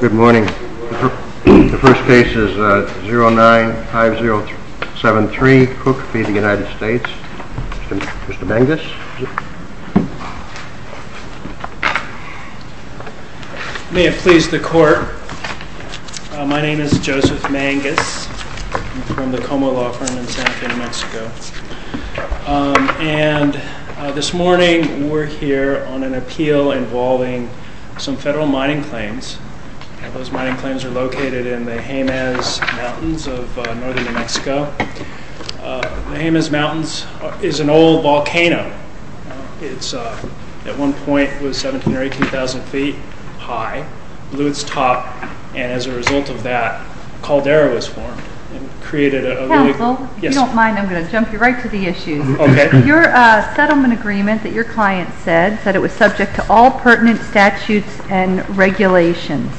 Good morning. The first case is 095073, Cook v. United States. Mr. Mangus. May it please the court. My name is Joseph Mangus. I'm from the Como Law Firm in Santa Fe, New Mexico. And this morning we're here on an appeal involving some federal mining claims. Those mining claims are located in the Jemez Mountains of northern New Mexico. The Jemez Mountains is an old volcano. It's at one point was 17 or 18,000 feet high, blew its top, and as a result of that, a caldera was formed. Counsel, if you don't mind, I'm going to jump you right to the issue. Okay. Your settlement agreement that your client said, said it was subject to all pertinent statutes and regulations.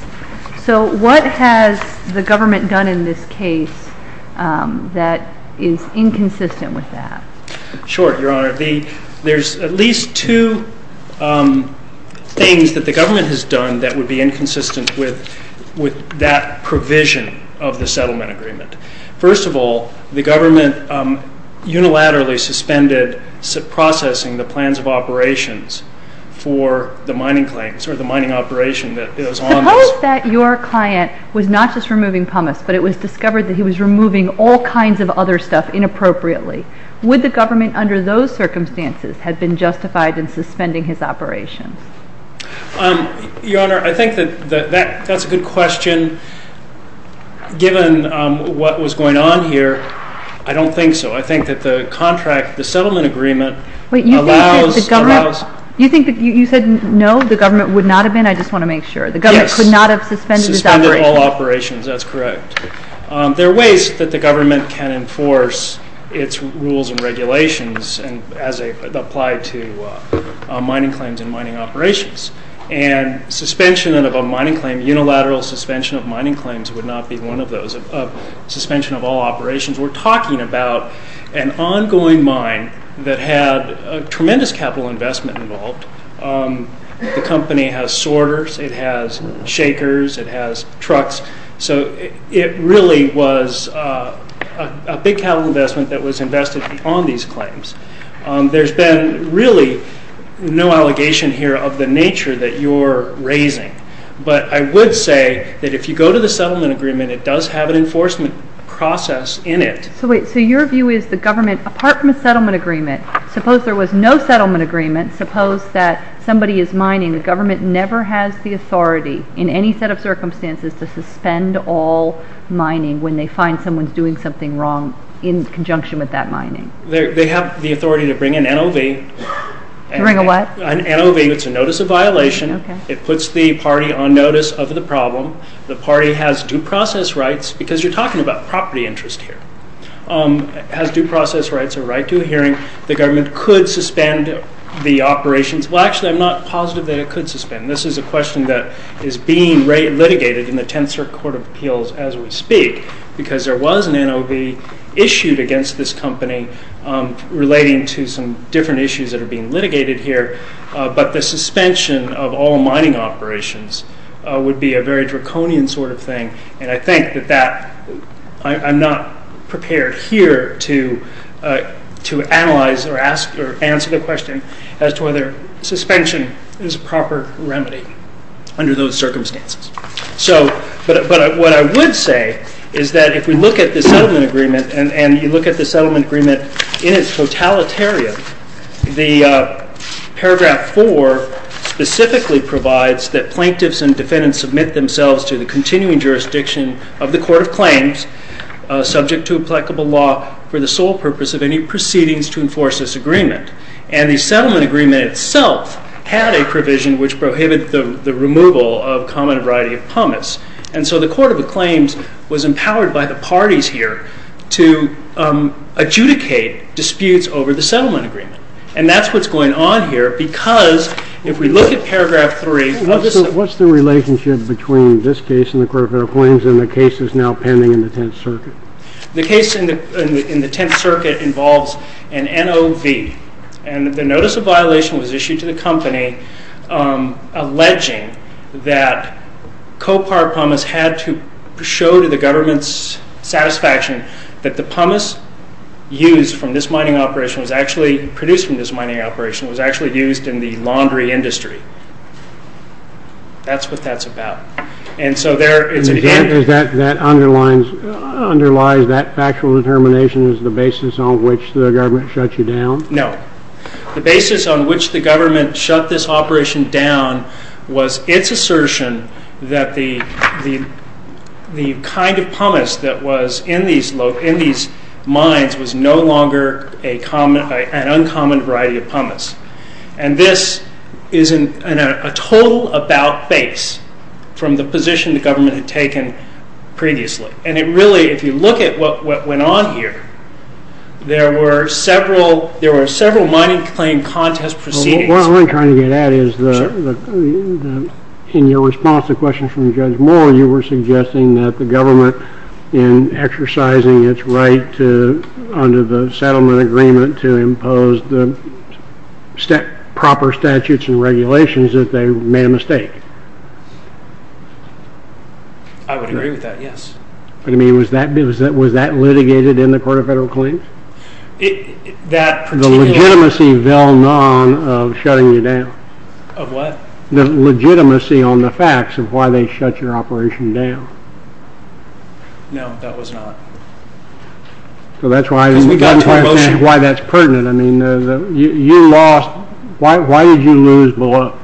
So what has the government done in this case that is inconsistent with that? Sure, Your Honor. There's at least two things that the government has done that would be inconsistent with that provision of the settlement agreement. First of all, the government unilaterally suspended processing the plans of operations for the mining claims or the mining operation that is on this. Suppose that your client was not just removing pumice, but it was discovered that he was removing all kinds of other stuff inappropriately. Would the government under those circumstances have been justified in suspending his operations? Your Honor, I think that that's a good question. Given what was going on here, I don't think so. I think that the contract, the settlement agreement, allows... Wait, you think that the government... You think that, you said no, the government would not have been? I just want to make sure. Yes. The government could not have suspended his operations. Suspended all operations, that's correct. There are ways that the government can enforce its rules and regulations as they apply to mining claims and mining operations. Suspension of a mining claim, unilateral suspension of mining claims, would not be one of those. Suspension of all operations. We're talking about an ongoing mine that had a tremendous capital investment involved. The company has sorters, it has shakers, it has trucks. It really was a big capital investment that was invested on these claims. There's been really no allegation here of the nature that you're raising. But I would say that if you go to the settlement agreement, it does have an enforcement process in it. Wait, so your view is the government, apart from the settlement agreement, suppose there was no settlement agreement, suppose that somebody is mining, the government never has the authority in any set of circumstances to suspend all mining when they find someone's doing something wrong in conjunction with that mining. They have the authority to bring an NOV. To bring a what? An NOV, it's a notice of violation. It puts the party on notice of the problem. The party has due process rights because you're talking about property interest here. It has due process rights, a right to a hearing. The government could suspend the operations. Well, actually, I'm not positive that it could suspend. This is a question that is being litigated in the Tenth Circuit Court of Appeals as we speak because there was an NOV issued against this company relating to some different issues that are being litigated here. But the suspension of all mining operations would be a very draconian sort of thing. And I think that I'm not prepared here to analyze or answer the question as to whether suspension is a proper remedy under those circumstances. But what I would say is that if we look at the settlement agreement and you look at the settlement agreement in its totalitarian, the paragraph 4 specifically provides that plaintiffs and defendants submit themselves to the continuing jurisdiction of the court of claims subject to applicable law for the sole purpose of any proceedings to enforce this agreement. And the settlement agreement itself had a provision which prohibited the removal of common variety of pumice. And so the court of claims was empowered by the parties here to adjudicate disputes over the settlement agreement. And that's what's going on here because if we look at paragraph 3... What's the relationship between this case in the court of claims and the cases now pending in the Tenth Circuit? The case in the Tenth Circuit involves an NOV. And the notice of violation was issued to the company alleging that co-powered pumice had to show to the government's satisfaction that the pumice produced from this mining operation was actually used in the laundry industry. That's what that's about. And so there is an example... That underlies that factual determination as the basis on which the government shut you down? No. The basis on which the government shut this operation down was its assertion that the kind of pumice that was in these mines was no longer an uncommon variety of pumice. And this is a total about-base from the position the government had taken previously. And it really, if you look at what went on here, there were several mining claim contest proceedings... What I'm trying to get at is in your response to questions from Judge Moore, you were suggesting that the government, in exercising its right under the settlement agreement to impose the proper statutes and regulations, that they made a mistake. I would agree with that, yes. I mean, was that litigated in the Court of Federal Claims? The legitimacy of shutting you down. Of what? The legitimacy on the facts of why they shut your operation down. No, that was not. That's why that's pertinent. You lost. Why did you lose, Bill?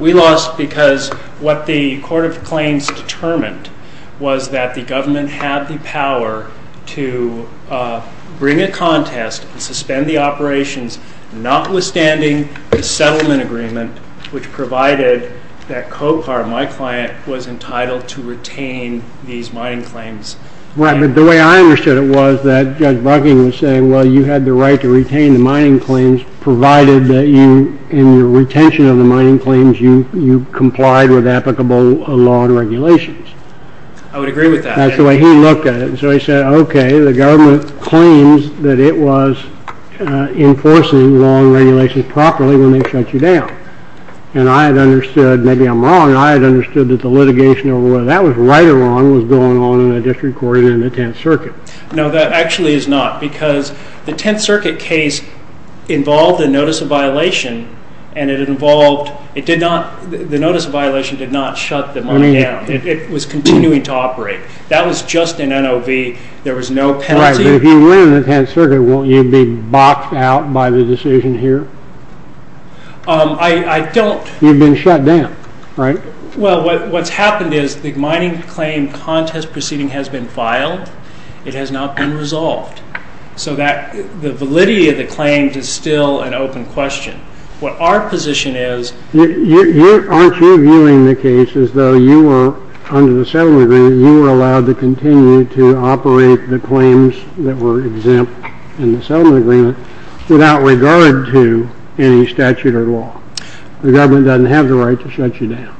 We lost because what the Court of Claims determined was that the government had the power to bring a contest, suspend the operations, notwithstanding the settlement agreement, which provided that COPAR, my client, was entitled to retain these mining claims. Right, but the way I understood it was that Judge Bucking was saying, well, you had the right to retain the mining claims provided that in your retention of the mining claims you complied with applicable law and regulations. I would agree with that. That's the way he looked at it. So he said, okay, the government claims that it was enforcing law and regulations properly when they shut you down. And I had understood, maybe I'm wrong, I had understood that the litigation over whether that was right or wrong was going on in the District Court and in the Tenth Circuit. No, that actually is not, because the Tenth Circuit case involved a notice of violation and the notice of violation did not shut the mine down. It was continuing to operate. That was just an NOV. There was no penalty. Right, but if you win in the Tenth Circuit, won't you be boxed out by the decision here? I don't. You've been shut down, right? Well, what's happened is the mining claim contest proceeding has been filed. It has not been resolved. So the validity of the claims is still an open question. What our position is... Aren't you viewing the case as though you were, under the settlement agreement, you were allowed to continue to operate the claims that were exempt in the settlement agreement without regard to any statute or law? The government doesn't have the right to shut you down.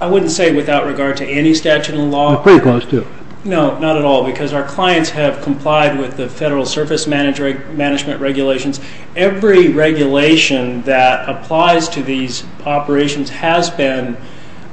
I wouldn't say without regard to any statute or law. Pretty close to. No, not at all, because our clients have complied with the federal surface management regulations. Every regulation that applies to these operations has been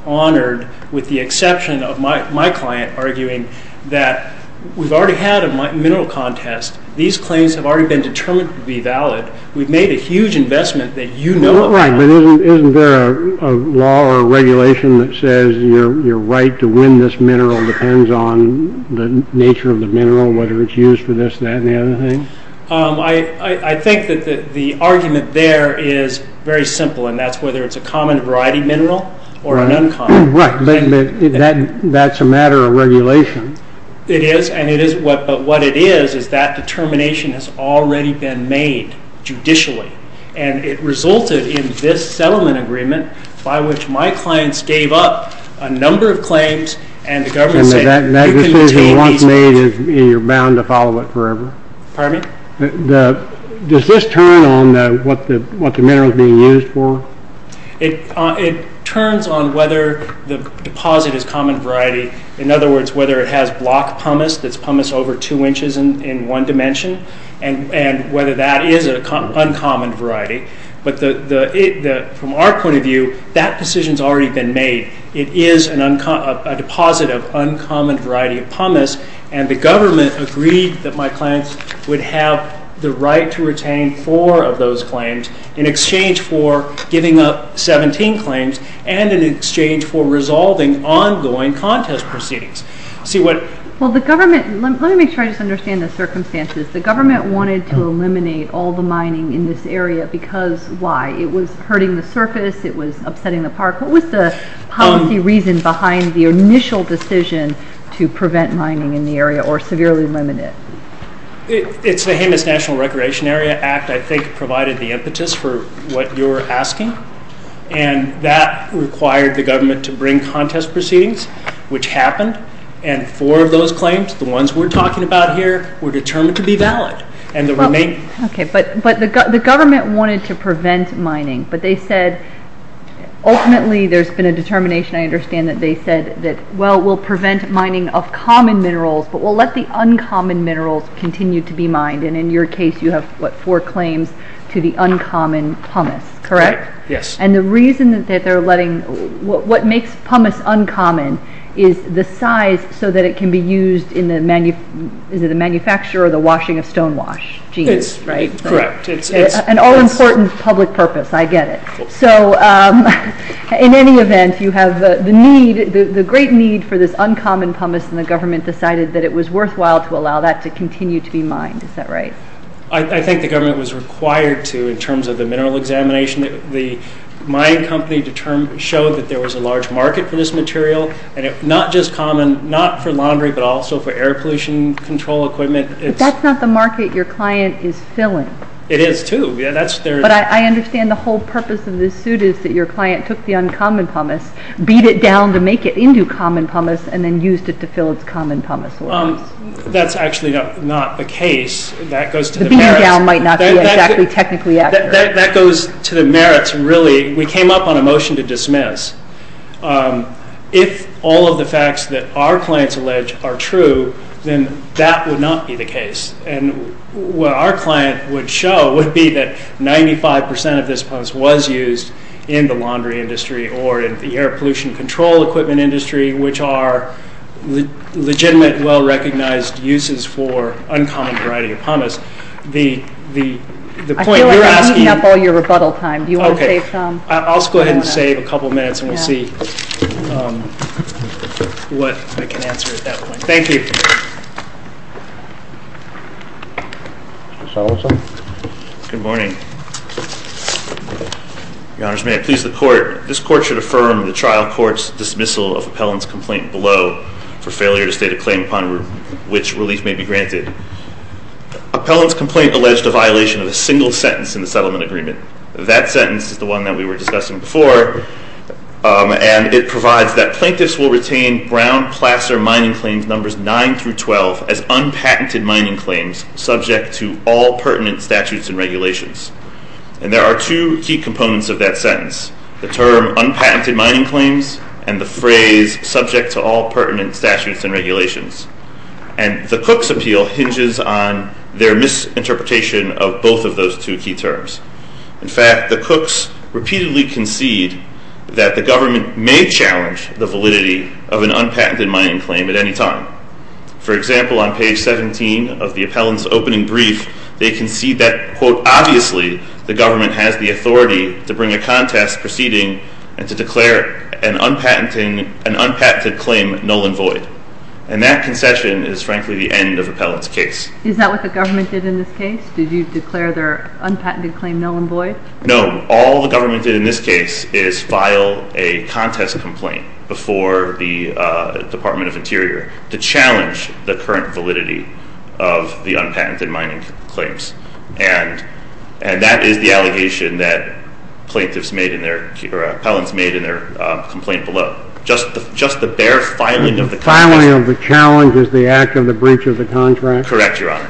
honored with the exception of my client arguing that we've already had a mineral contest. These claims have already been determined to be valid. We've made a huge investment that you know about. Right, but isn't there a law or a regulation that says your right to win this mineral depends on the nature of the mineral, whether it's used for this, that, and the other thing? I think that the argument there is very simple, and that's whether it's a common variety mineral or an uncommon. Right, but that's a matter of regulation. It is, but what it is is that determination has already been made judicially, and it resulted in this settlement agreement by which my clients gave up a number of claims, and the government said you can retain these claims. And that decision was not made and you're bound to follow it forever? Pardon me? Does this turn on what the mineral is being used for? It turns on whether the deposit is common variety. In other words, whether it has block pumice that's pumice over 2 inches in one dimension, and whether that is an uncommon variety. But from our point of view, that decision's already been made. It is a deposit of uncommon variety of pumice, and the government agreed that my clients would have the right to retain four of those claims in exchange for giving up 17 claims and in exchange for resolving ongoing contest proceedings. Well, let me make sure I just understand the circumstances. The government wanted to eliminate all the mining in this area because why? It was hurting the surface. It was upsetting the park. What was the policy reason behind the initial decision to prevent mining in the area or severely limit it? It's the Jemez National Recreation Area Act, I think, provided the impetus for what you're asking, and that required the government to bring contest proceedings, which happened, and four of those claims, the ones we're talking about here, were determined to be valid. Okay, but the government wanted to prevent mining, but they said ultimately there's been a determination, I understand, that they said that, well, we'll prevent mining of common minerals, but we'll let the uncommon minerals continue to be mined, and in your case you have, what, four claims to the uncommon pumice, correct? Right, yes. And the reason that they're letting, what makes pumice uncommon is the size so that it can be used in the, is it the manufacture or the washing of stonewash? It's, right, correct. An all-important public purpose, I get it. So in any event, you have the need, the great need for this uncommon pumice, and the government decided that it was worthwhile to allow that to continue to be mined, is that right? I think the government was required to, in terms of the mineral examination, the mining company showed that there was a large market for this material, and not just common, not for laundry, but also for air pollution control equipment. But that's not the market your client is filling. It is, too. But I understand the whole purpose of this suit is that your client took the uncommon pumice, beat it down to make it into common pumice, and then used it to fill its common pumice wells. That's actually not the case. The beating down might not be exactly technically accurate. That goes to the merits, really. We came up on a motion to dismiss. If all of the facts that our clients allege are true, then that would not be the case. And what our client would show would be that 95% of this pumice was used in the laundry industry or in the air pollution control equipment industry, which are legitimate, well-recognized uses for uncommon variety of pumice. I feel like I'm eating up all your rebuttal time. Do you want to save some? I'll go ahead and save a couple of minutes, and we'll see what I can answer at that point. Thank you. Mr. Salazar? Good morning. Your Honors, may I please the Court? This Court should affirm the trial court's dismissal upon which relief may be granted. Appellant's complaint alleged a violation of a single sentence in the settlement agreement. That sentence is the one that we were discussing before, and it provides that plaintiffs will retain Brown-Plasser mining claims numbers 9 through 12 as unpatented mining claims subject to all pertinent statutes and regulations. And there are two key components of that sentence, the term unpatented mining claims and the phrase subject to all pertinent statutes and regulations. And the Cook's appeal hinges on their misinterpretation of both of those two key terms. In fact, the Cooks repeatedly concede that the government may challenge the validity of an unpatented mining claim at any time. For example, on page 17 of the appellant's opening brief, they concede that, quote, obviously the government has the authority to bring a contest proceeding and to declare an unpatented claim null and void. And that concession is, frankly, the end of appellant's case. Is that what the government did in this case? Did you declare their unpatented claim null and void? No. All the government did in this case is file a contest complaint before the Department of Interior to challenge the current validity of the unpatented mining claims. And that is the allegation that plaintiffs made in their... or appellants made in their complaint below. Just the bare filing of the... The filing of the challenge is the act of the breach of the contract? Correct, Your Honor.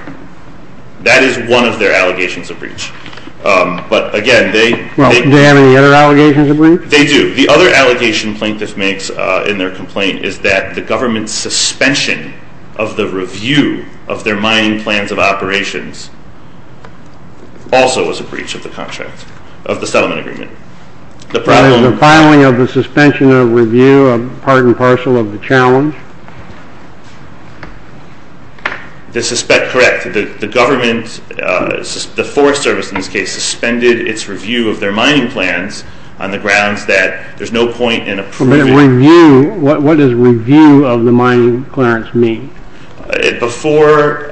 That is one of their allegations of breach. But again, they... Well, do they have any other allegations of breach? They do. The other allegation plaintiffs make in their complaint is that the government's suspension of the review of their mining plans of operations also was a breach of the contract, of the settlement agreement. The problem... The filing of the suspension of review, part and parcel of the challenge? Correct. The government, the Forest Service in this case, suspended its review of their mining plans on the grounds that there's no point in approving... Review? What does review of the mining clearance mean? Before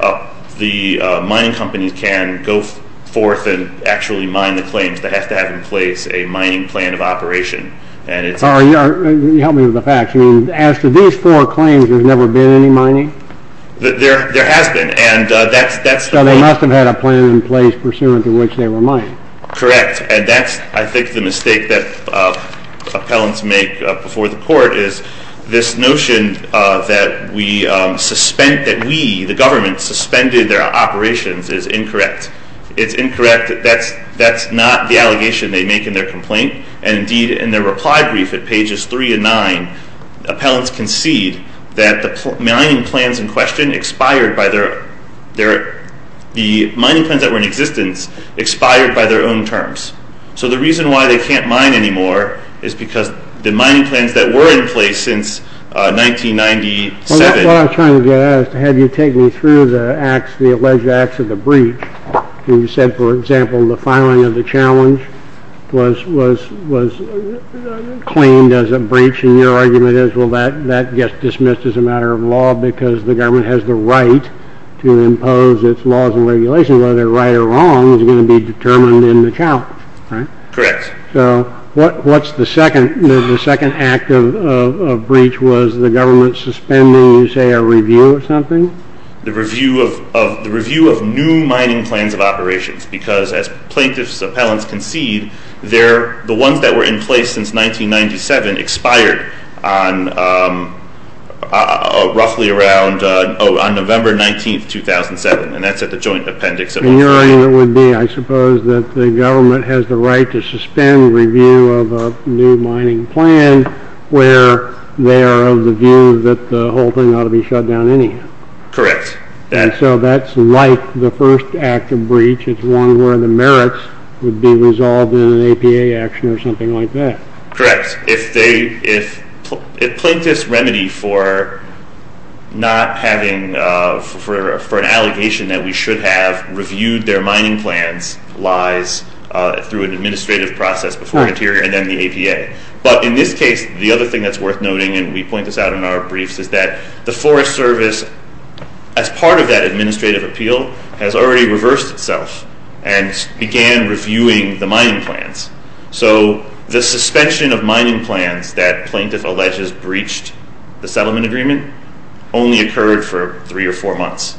the mining companies can go forth and actually mine the claims, they have to have in place a mining plan of operation. And it's... Help me with the facts. As to these four claims, there's never been any mining? There has been, and that's... So they must have had a plan in place pursuant to which they were mining. Correct, and that's, I think, the mistake that appellants make before the court is this notion that we suspend... that we, the government, suspended their operations is incorrect. It's incorrect. That's not the allegation they make in their complaint. And indeed, in their reply brief at pages 3 and 9, appellants concede that the mining plans in question expired by their... The mining plans that were in existence expired by their own terms. So the reason why they can't mine anymore is because the mining plans that were in place since 1997... Well, that's what I was trying to get at, is to have you take me through the acts, the acts of the breach. You said, for example, the filing of the challenge was claimed as a breach, and your argument is, well, that gets dismissed as a matter of law because the government has the right to impose its laws and regulations. Whether they're right or wrong is going to be determined in the challenge, right? Correct. So what's the second act of breach? Was the government suspending, you say, a review of something? The review of new mining plans of operations because, as plaintiffs' appellants concede, the ones that were in place since 1997 expired on roughly around... Oh, on November 19, 2007, and that's at the joint appendix of... And your argument would be, I suppose, that the government has the right to suspend review of a new mining plan where they are of the view that the whole thing ought to be shut down anyhow. Correct. And so that's like the first act of breach. It's one where the merits would be resolved in an APA action or something like that. Correct. If they... If plaintiffs' remedy for not having... for an allegation that we should have reviewed their mining plans lies through an administrative process before an interior and then the APA. But in this case, the other thing that's worth noting, and we point this out in our briefs, is that the Forest Service, as part of that administrative appeal, has already reversed itself and began reviewing the mining plans. So the suspension of mining plans that plaintiff alleges breached the settlement agreement only occurred for three or four months.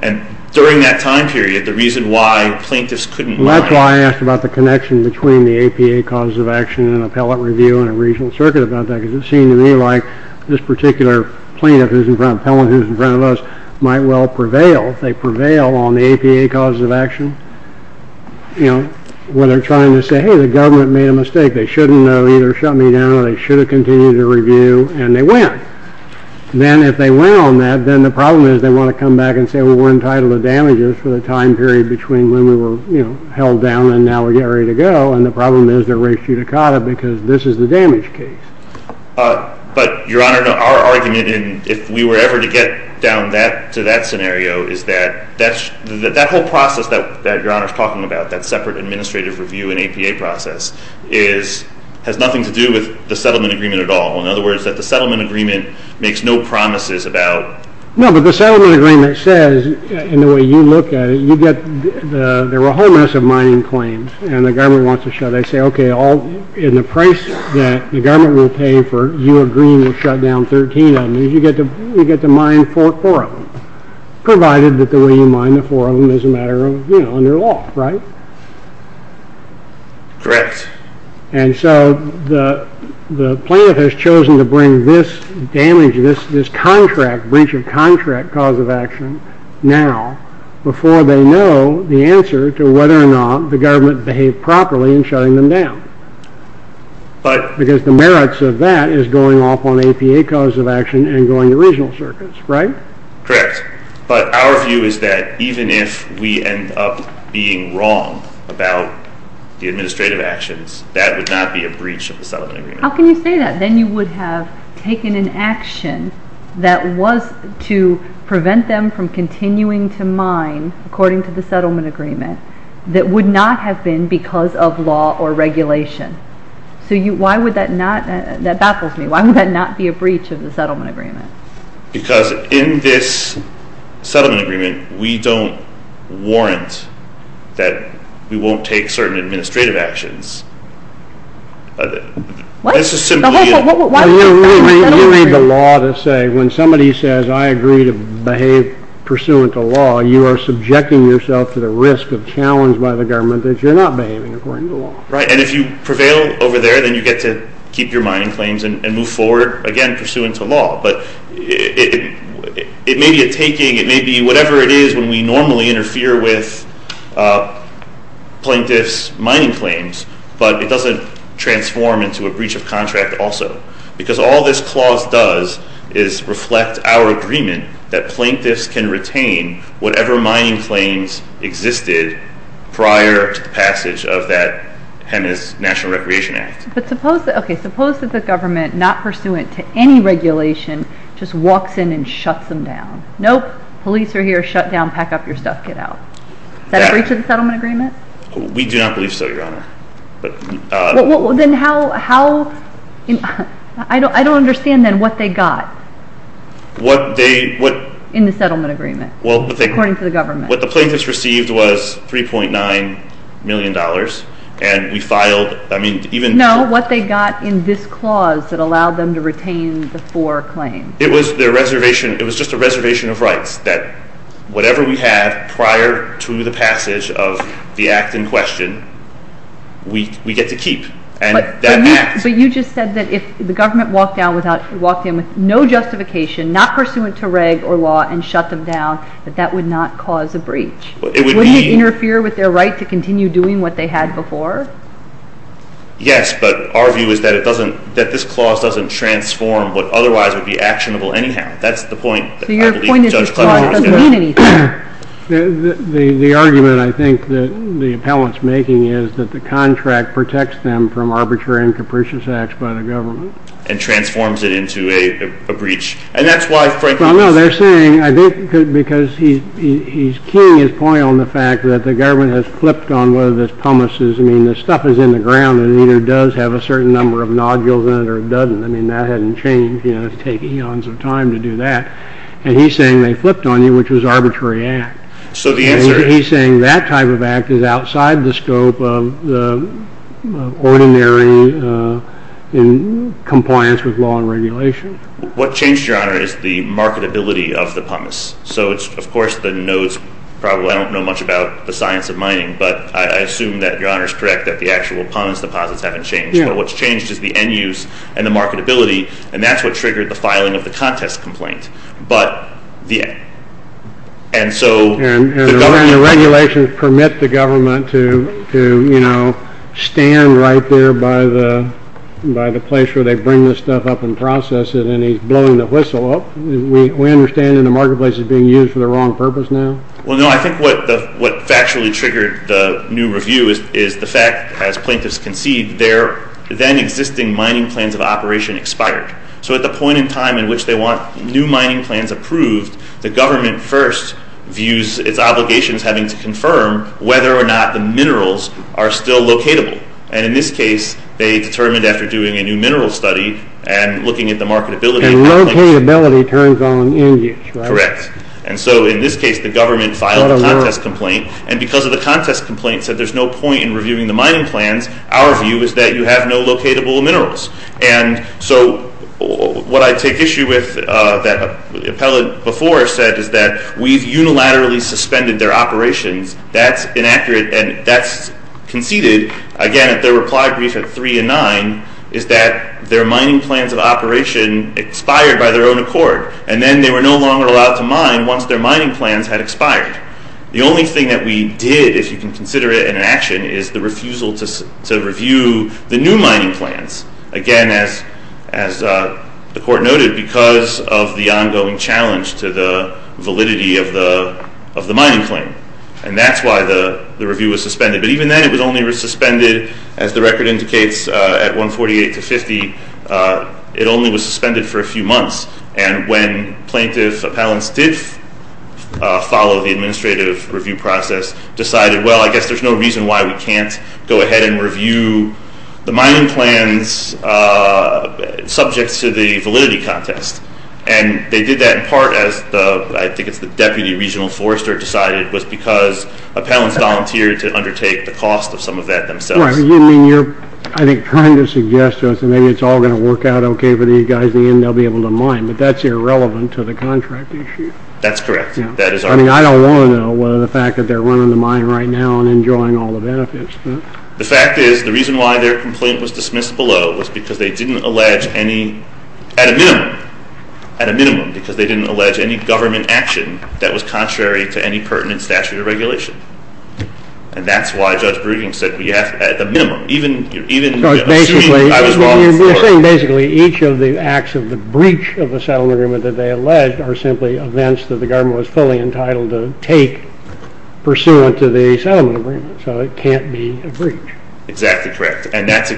And during that time period, the reason why plaintiffs couldn't... That's why I asked about the connection between the APA cause of action and appellate review in a regional circuit about that, because it seemed to me like this particular plaintiff who's in front... appellant who's in front of us might well prevail. If they prevail on the APA cause of action, you know, where they're trying to say, hey, the government made a mistake. They shouldn't have either shut me down or they should have continued to review, and they win. Then if they win on that, then the problem is they want to come back and say, well, we're entitled to damages for the time period between when we were, you know, held down and now we're getting ready to go. And the problem is they're res judicata because this is the damage case. But, Your Honor, our argument, if we were ever to get down to that scenario, is that that whole process that Your Honor's talking about, that separate administrative review and APA process, has nothing to do with the settlement agreement at all. In other words, that the settlement agreement makes no promises about... No, but the settlement agreement says, in the way you look at it, there were a whole mess of mining claims and the government wants to shut. They say, okay, in the price that the government will pay for you agreeing to shut down 13 of them, you get to mine four of them, provided that the way you mine the four of them is a matter of, you know, under law, right? Correct. And so the plaintiff has chosen to bring this damage, this contract, breach of contract, cause of action now before they know the answer to whether or not the government behaved properly in shutting them down. Because the merits of that is going off on APA cause of action and going to regional circuits, right? Correct. But our view is that even if we end up being wrong about the administrative actions, that would not be a breach of the settlement agreement. How can you say that? Then you would have taken an action that was to prevent them from continuing to mine, according to the settlement agreement, that would not have been because of law or regulation. So why would that not... That baffles me. Why would that not be a breach of the settlement agreement? Because in this settlement agreement, we don't warrant that we won't take certain administrative actions. What? when somebody says, I agree to behave pursuant to law, you are subjecting yourself to the risk of challenge by the government that you're not behaving according to law. Right, and if you prevail over there, then you get to keep your mining claims and move forward, again, pursuant to law. But it may be a taking, it may be whatever it is when we normally interfere with plaintiffs' mining claims, but it doesn't transform into a breach of contract also. Because all this clause does is reflect our agreement that plaintiffs can retain whatever mining claims existed prior to the passage of that Hennas National Recreation Act. But suppose, okay, suppose that the government, not pursuant to any regulation, just walks in and shuts them down. Nope, police are here, shut down, pack up your stuff, get out. Is that a breach of the settlement agreement? We do not believe so, Your Honor. Then how... I don't understand, then, what they got. What they... In the settlement agreement, according to the government. What the plaintiffs received was $3.9 million, and we filed... No, what they got in this clause that allowed them to retain the four claims. It was just a reservation of rights that whatever we had prior to the passage of the act in question, we get to keep. But you just said that if the government walked in with no justification, not pursuant to reg or law, and shut them down, that that would not cause a breach. Wouldn't it interfere with their right to continue doing what they had before? Yes, but our view is that it doesn't, that this clause doesn't transform what otherwise would be actionable anyhow. That's the point. So your point is that it doesn't mean anything. The argument, I think, that the appellant's making is that the contract protects them from arbitrary and capricious acts by the government. And transforms it into a breach. And that's why, frankly... No, they're saying, I think, because he's keying his point on the fact that the government has flipped on whether this pumice is, I mean, this stuff is in the ground and either does have a certain number of nodules in it or doesn't. I mean, that hasn't changed. It would take eons of time to do that. And he's saying they flipped on you, which was arbitrary act. He's saying that type of act is outside the scope of the ordinary compliance with law and regulation. What changed, Your Honor, is the marketability of the pumice. So, of course, the nodes, I don't know much about the science of mining, but I assume that Your Honor is correct that the actual pumice deposits haven't changed. But what's changed is the end-use and the marketability. And that's what triggered the filing of the contest complaint. But... And the regulations permit the government to stand right there by the place where they bring this stuff up and process it. And he's blowing the whistle. We understand the marketplace is being used for the wrong purpose now. Well, no, I think what factually triggered the new review is the fact, as plaintiffs concede, their then-existing mining plans of operation expired. So at the point in time in which they want new mining plans approved, the government first views its obligations having to confirm whether or not the minerals are still locatable. And in this case, they determined after doing a new mineral study and looking at the marketability... And locatability turns on end-use, right? Correct. And so, in this case, the government filed a contest complaint. And because of the contest complaint said there's no point in reviewing the mining plans, our view is that you have no locatable minerals. And so what I take issue with that the appellate before said is that we've unilaterally suspended their operations. That's inaccurate, and that's conceded, again, at their reply brief at 3 and 9, is that their mining plans of operation expired by their own accord. And then they were no longer allowed to mine once their mining plans had expired. The only thing that we did, if you can consider it in an action, is the refusal to review the new mining plans. Again, as the court noted, because of the ongoing challenge to the of the mining claim. And that's why the review was suspended. But even then, it was only suspended, as the record indicates, at 148 to 50. It only was suspended for a few months. And when plaintiff appellants did follow the administrative review process, decided, well, I guess there's no reason why we can't go ahead and review the mining plans subject to the validity contest. And they did that in part as the I think it's the deputy regional forester decided, was because appellants volunteered to undertake the cost of some of that themselves. Right. You mean you're, I think, trying to suggest to us that maybe it's all going to work out okay for these guys. In the end, they'll be able to mine. But that's irrelevant to the contract issue. That's correct. I mean, I don't want to know whether the fact that they're running the mine right now and enjoying all the benefits. The fact is, the reason why their complaint was dismissed below was because they didn't allege any at a minimum, because they didn't allege any government action that was contrary to any pertinent statute of regulation. And that's why Judge Breeding said at the minimum, even assuming I was wrong. Basically, each of the acts of the breach of the settlement agreement that they alleged are simply events that the government was fully entitled to take pursuant to the settlement agreement. So it can't be a breach. Exactly correct. And that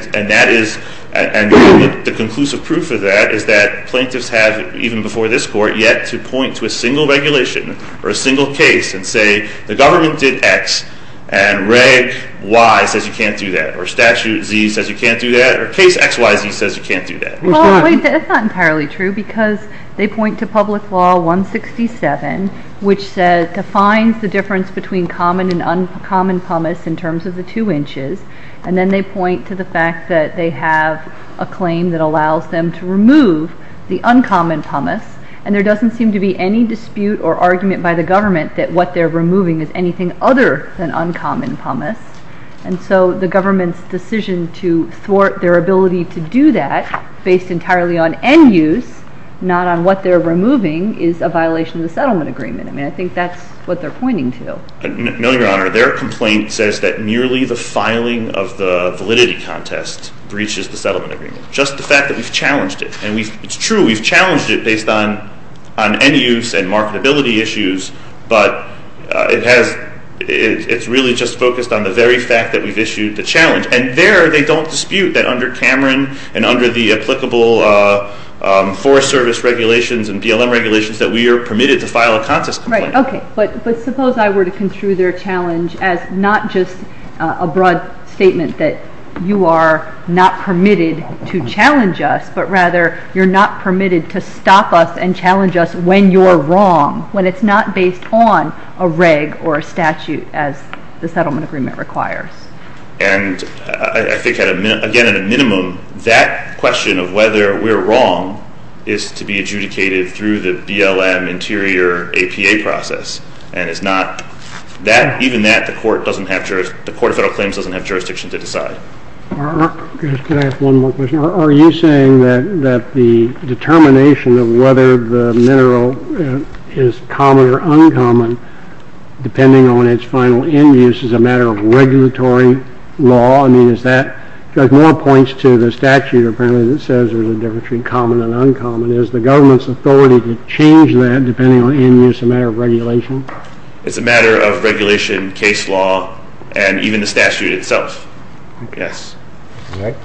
is, and the conclusive proof of that is that plaintiffs have, even before this court, yet to point to a single regulation or a single case and say, the government did X and Reg Y says you can't do that, or Statute Z says you can't do that, or Case XYZ says you can't do that. Well, wait, that's not entirely true because they point to public law 167, which defines the difference between common and uncommon pumice in terms of the two inches. And then they point to the fact that they have a claim that allows them to remove the uncommon pumice and there doesn't seem to be any dispute or argument by the government that what they're removing is anything other than uncommon pumice. And so the government's decision to thwart their ability to do that based entirely on end use, not on what they're removing, is a violation of the settlement agreement. I mean, I think that's what they're pointing to. No, Your Honor. Their complaint says that merely the filing of the settlement agreement. Just the fact that we've challenged it. And it's true, we've challenged it based on end use and marketability issues, but it has, it's really just focused on the very fact that we've issued the challenge. And there they don't dispute that under Cameron and under the applicable Forest Service regulations and BLM regulations that we are permitted to file a contest complaint. Right, okay. But suppose I were to construe their challenge as not just a broad statement that you are not permitted to challenge us, but rather you're not permitted to stop us and challenge us when you're wrong. When it's not based on a reg or a statute as the settlement agreement requires. And I think at a minimum, that question of whether we're wrong is to be adjudicated through the BLM interior APA process. And it's not that, even that, the court doesn't have jurisdiction to decide. Can I ask one more question? Are you saying that the determination of whether the mineral is common or uncommon depending on its final end use is a matter of regulatory law? I mean, is that, Judge Moore points to the statute apparently that says there's a difference between common and uncommon. Is the government's authority to change that depending on end use a matter of regulation? It's a matter of regulation case law, and even the statute itself. Yes. Thank you.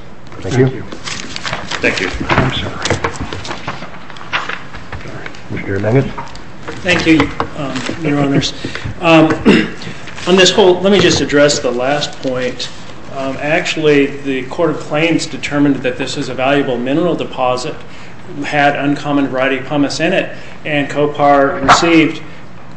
Thank you. Thank you, your honors. On this whole, let me just address the last point. Actually, the Court of Claims determined that this is a valuable mineral deposit. It had uncommon variety pumice in it, and COPAR received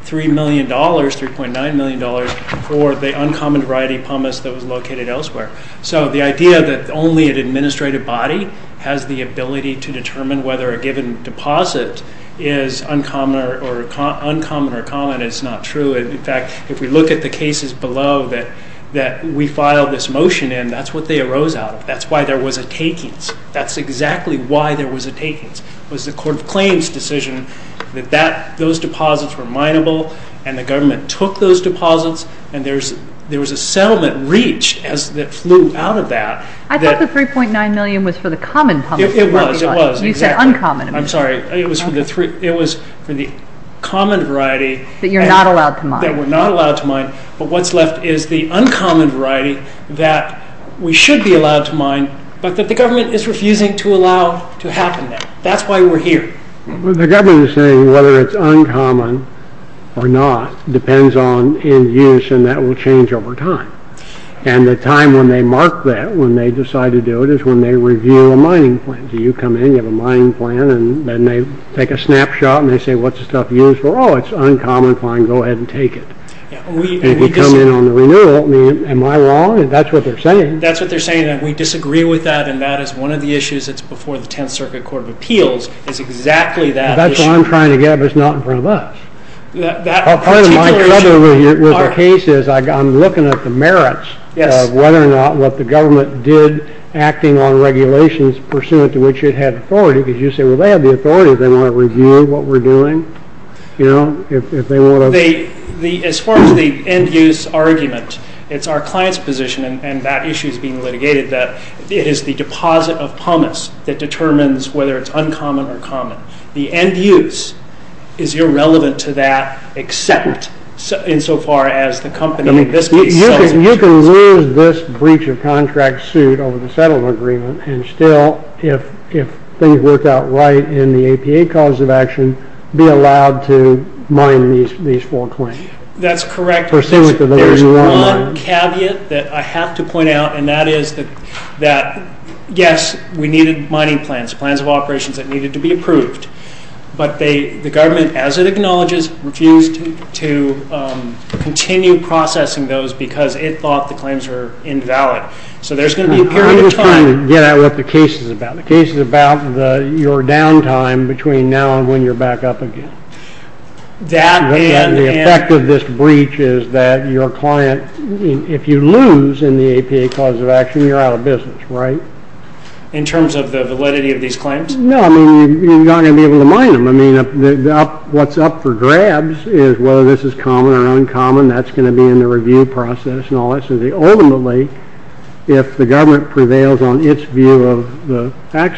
$3 million, $3.9 million, for the uncommon variety pumice that was located elsewhere. So the idea that only an administrative body has the ability to determine whether a given deposit is uncommon or common is not true. In fact, if we look at the cases below that we filed this motion in, that's what they arose out of. That's why there was a takings. That's exactly why there was a takings. It was the Court of Claims' decision that those deposits were mineable, and the government took those deposits, and there was a settlement reach that flew out of that. I thought the $3.9 million was for the common pumice. It was. You said uncommon. It was for the common variety that were not allowed to mine, but what's left is the uncommon variety that we should be allowed to mine, but that the government is refusing to allow to happen now. That's why we're here. The government is saying whether it's uncommon or not depends on end use, and that will change over time, and the time when they mark that, when they decide to do it, is when they review a mining plan. You come in, you have a mining plan, and they take a snapshot, and they say, what's the stuff used for? Oh, it's uncommon. Fine. Go ahead and take it. If you come in on the renewal, am I wrong? That's what they're saying. That's what they're saying, and we disagree with that, and that is one of the issues that's before the Tenth Circuit Court of Appeals is exactly that. That's what I'm trying to get at, but it's not in front of us. Part of my trouble with the case is I'm looking at the merits of whether or not what the government did acting on regulations pursuant to which it had authority, because you say, well, they have the authority. They want to review what we're doing. You know, if they want to... As far as the end use argument, it's our client's position, and that issue is being asked of pumice that determines whether it's uncommon or common. The end use is irrelevant to that except insofar as the company in this case... You can lose this breach of contract suit over the settlement agreement, and still, if things work out right in the APA cause of action, be allowed to mine these four claims. That's correct. There's one caveat that I have to point out, and that is that, yes, we needed mining plans, plans of operations that needed to be approved. But the government, as it acknowledges, refused to continue processing those because it thought the claims were invalid. So there's going to be a period of time... I'm just trying to get at what the case is about. The case is about your downtime between now and when you're back up again. That and... The effect of this breach is that your client, if you lose in the APA cause of action, you're out of business, right? In terms of the validity of these claims? No, I mean, you're not going to be able to mine them. I mean, what's up for grabs is whether this is common or uncommon. That's going to be in the review process and all that. So ultimately, if the government prevails on its view of the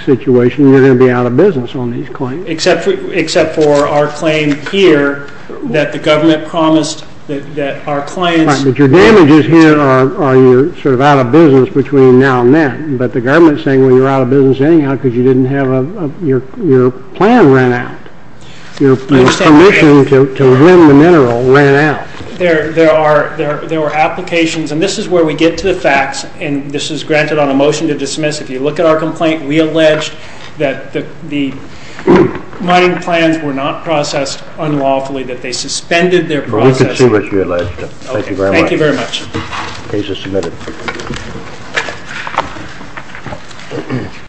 situation, you're going to be out of business on these claims. Except for our claim here that the government promised that our claims... Right, but your damages here are you're sort of out of business between now and then. But the government is saying when you're out of business anyhow because you didn't have your plan ran out. Your permission to win the mineral ran out. There are applications, and this is where we get to the facts, and this is granted on a motion to dismiss. If you look at our complaint, we allege that the mining plans were not processed unlawfully, that they suspended their process. We can see what you allege. Thank you very much. Thank you very much. Case is submitted.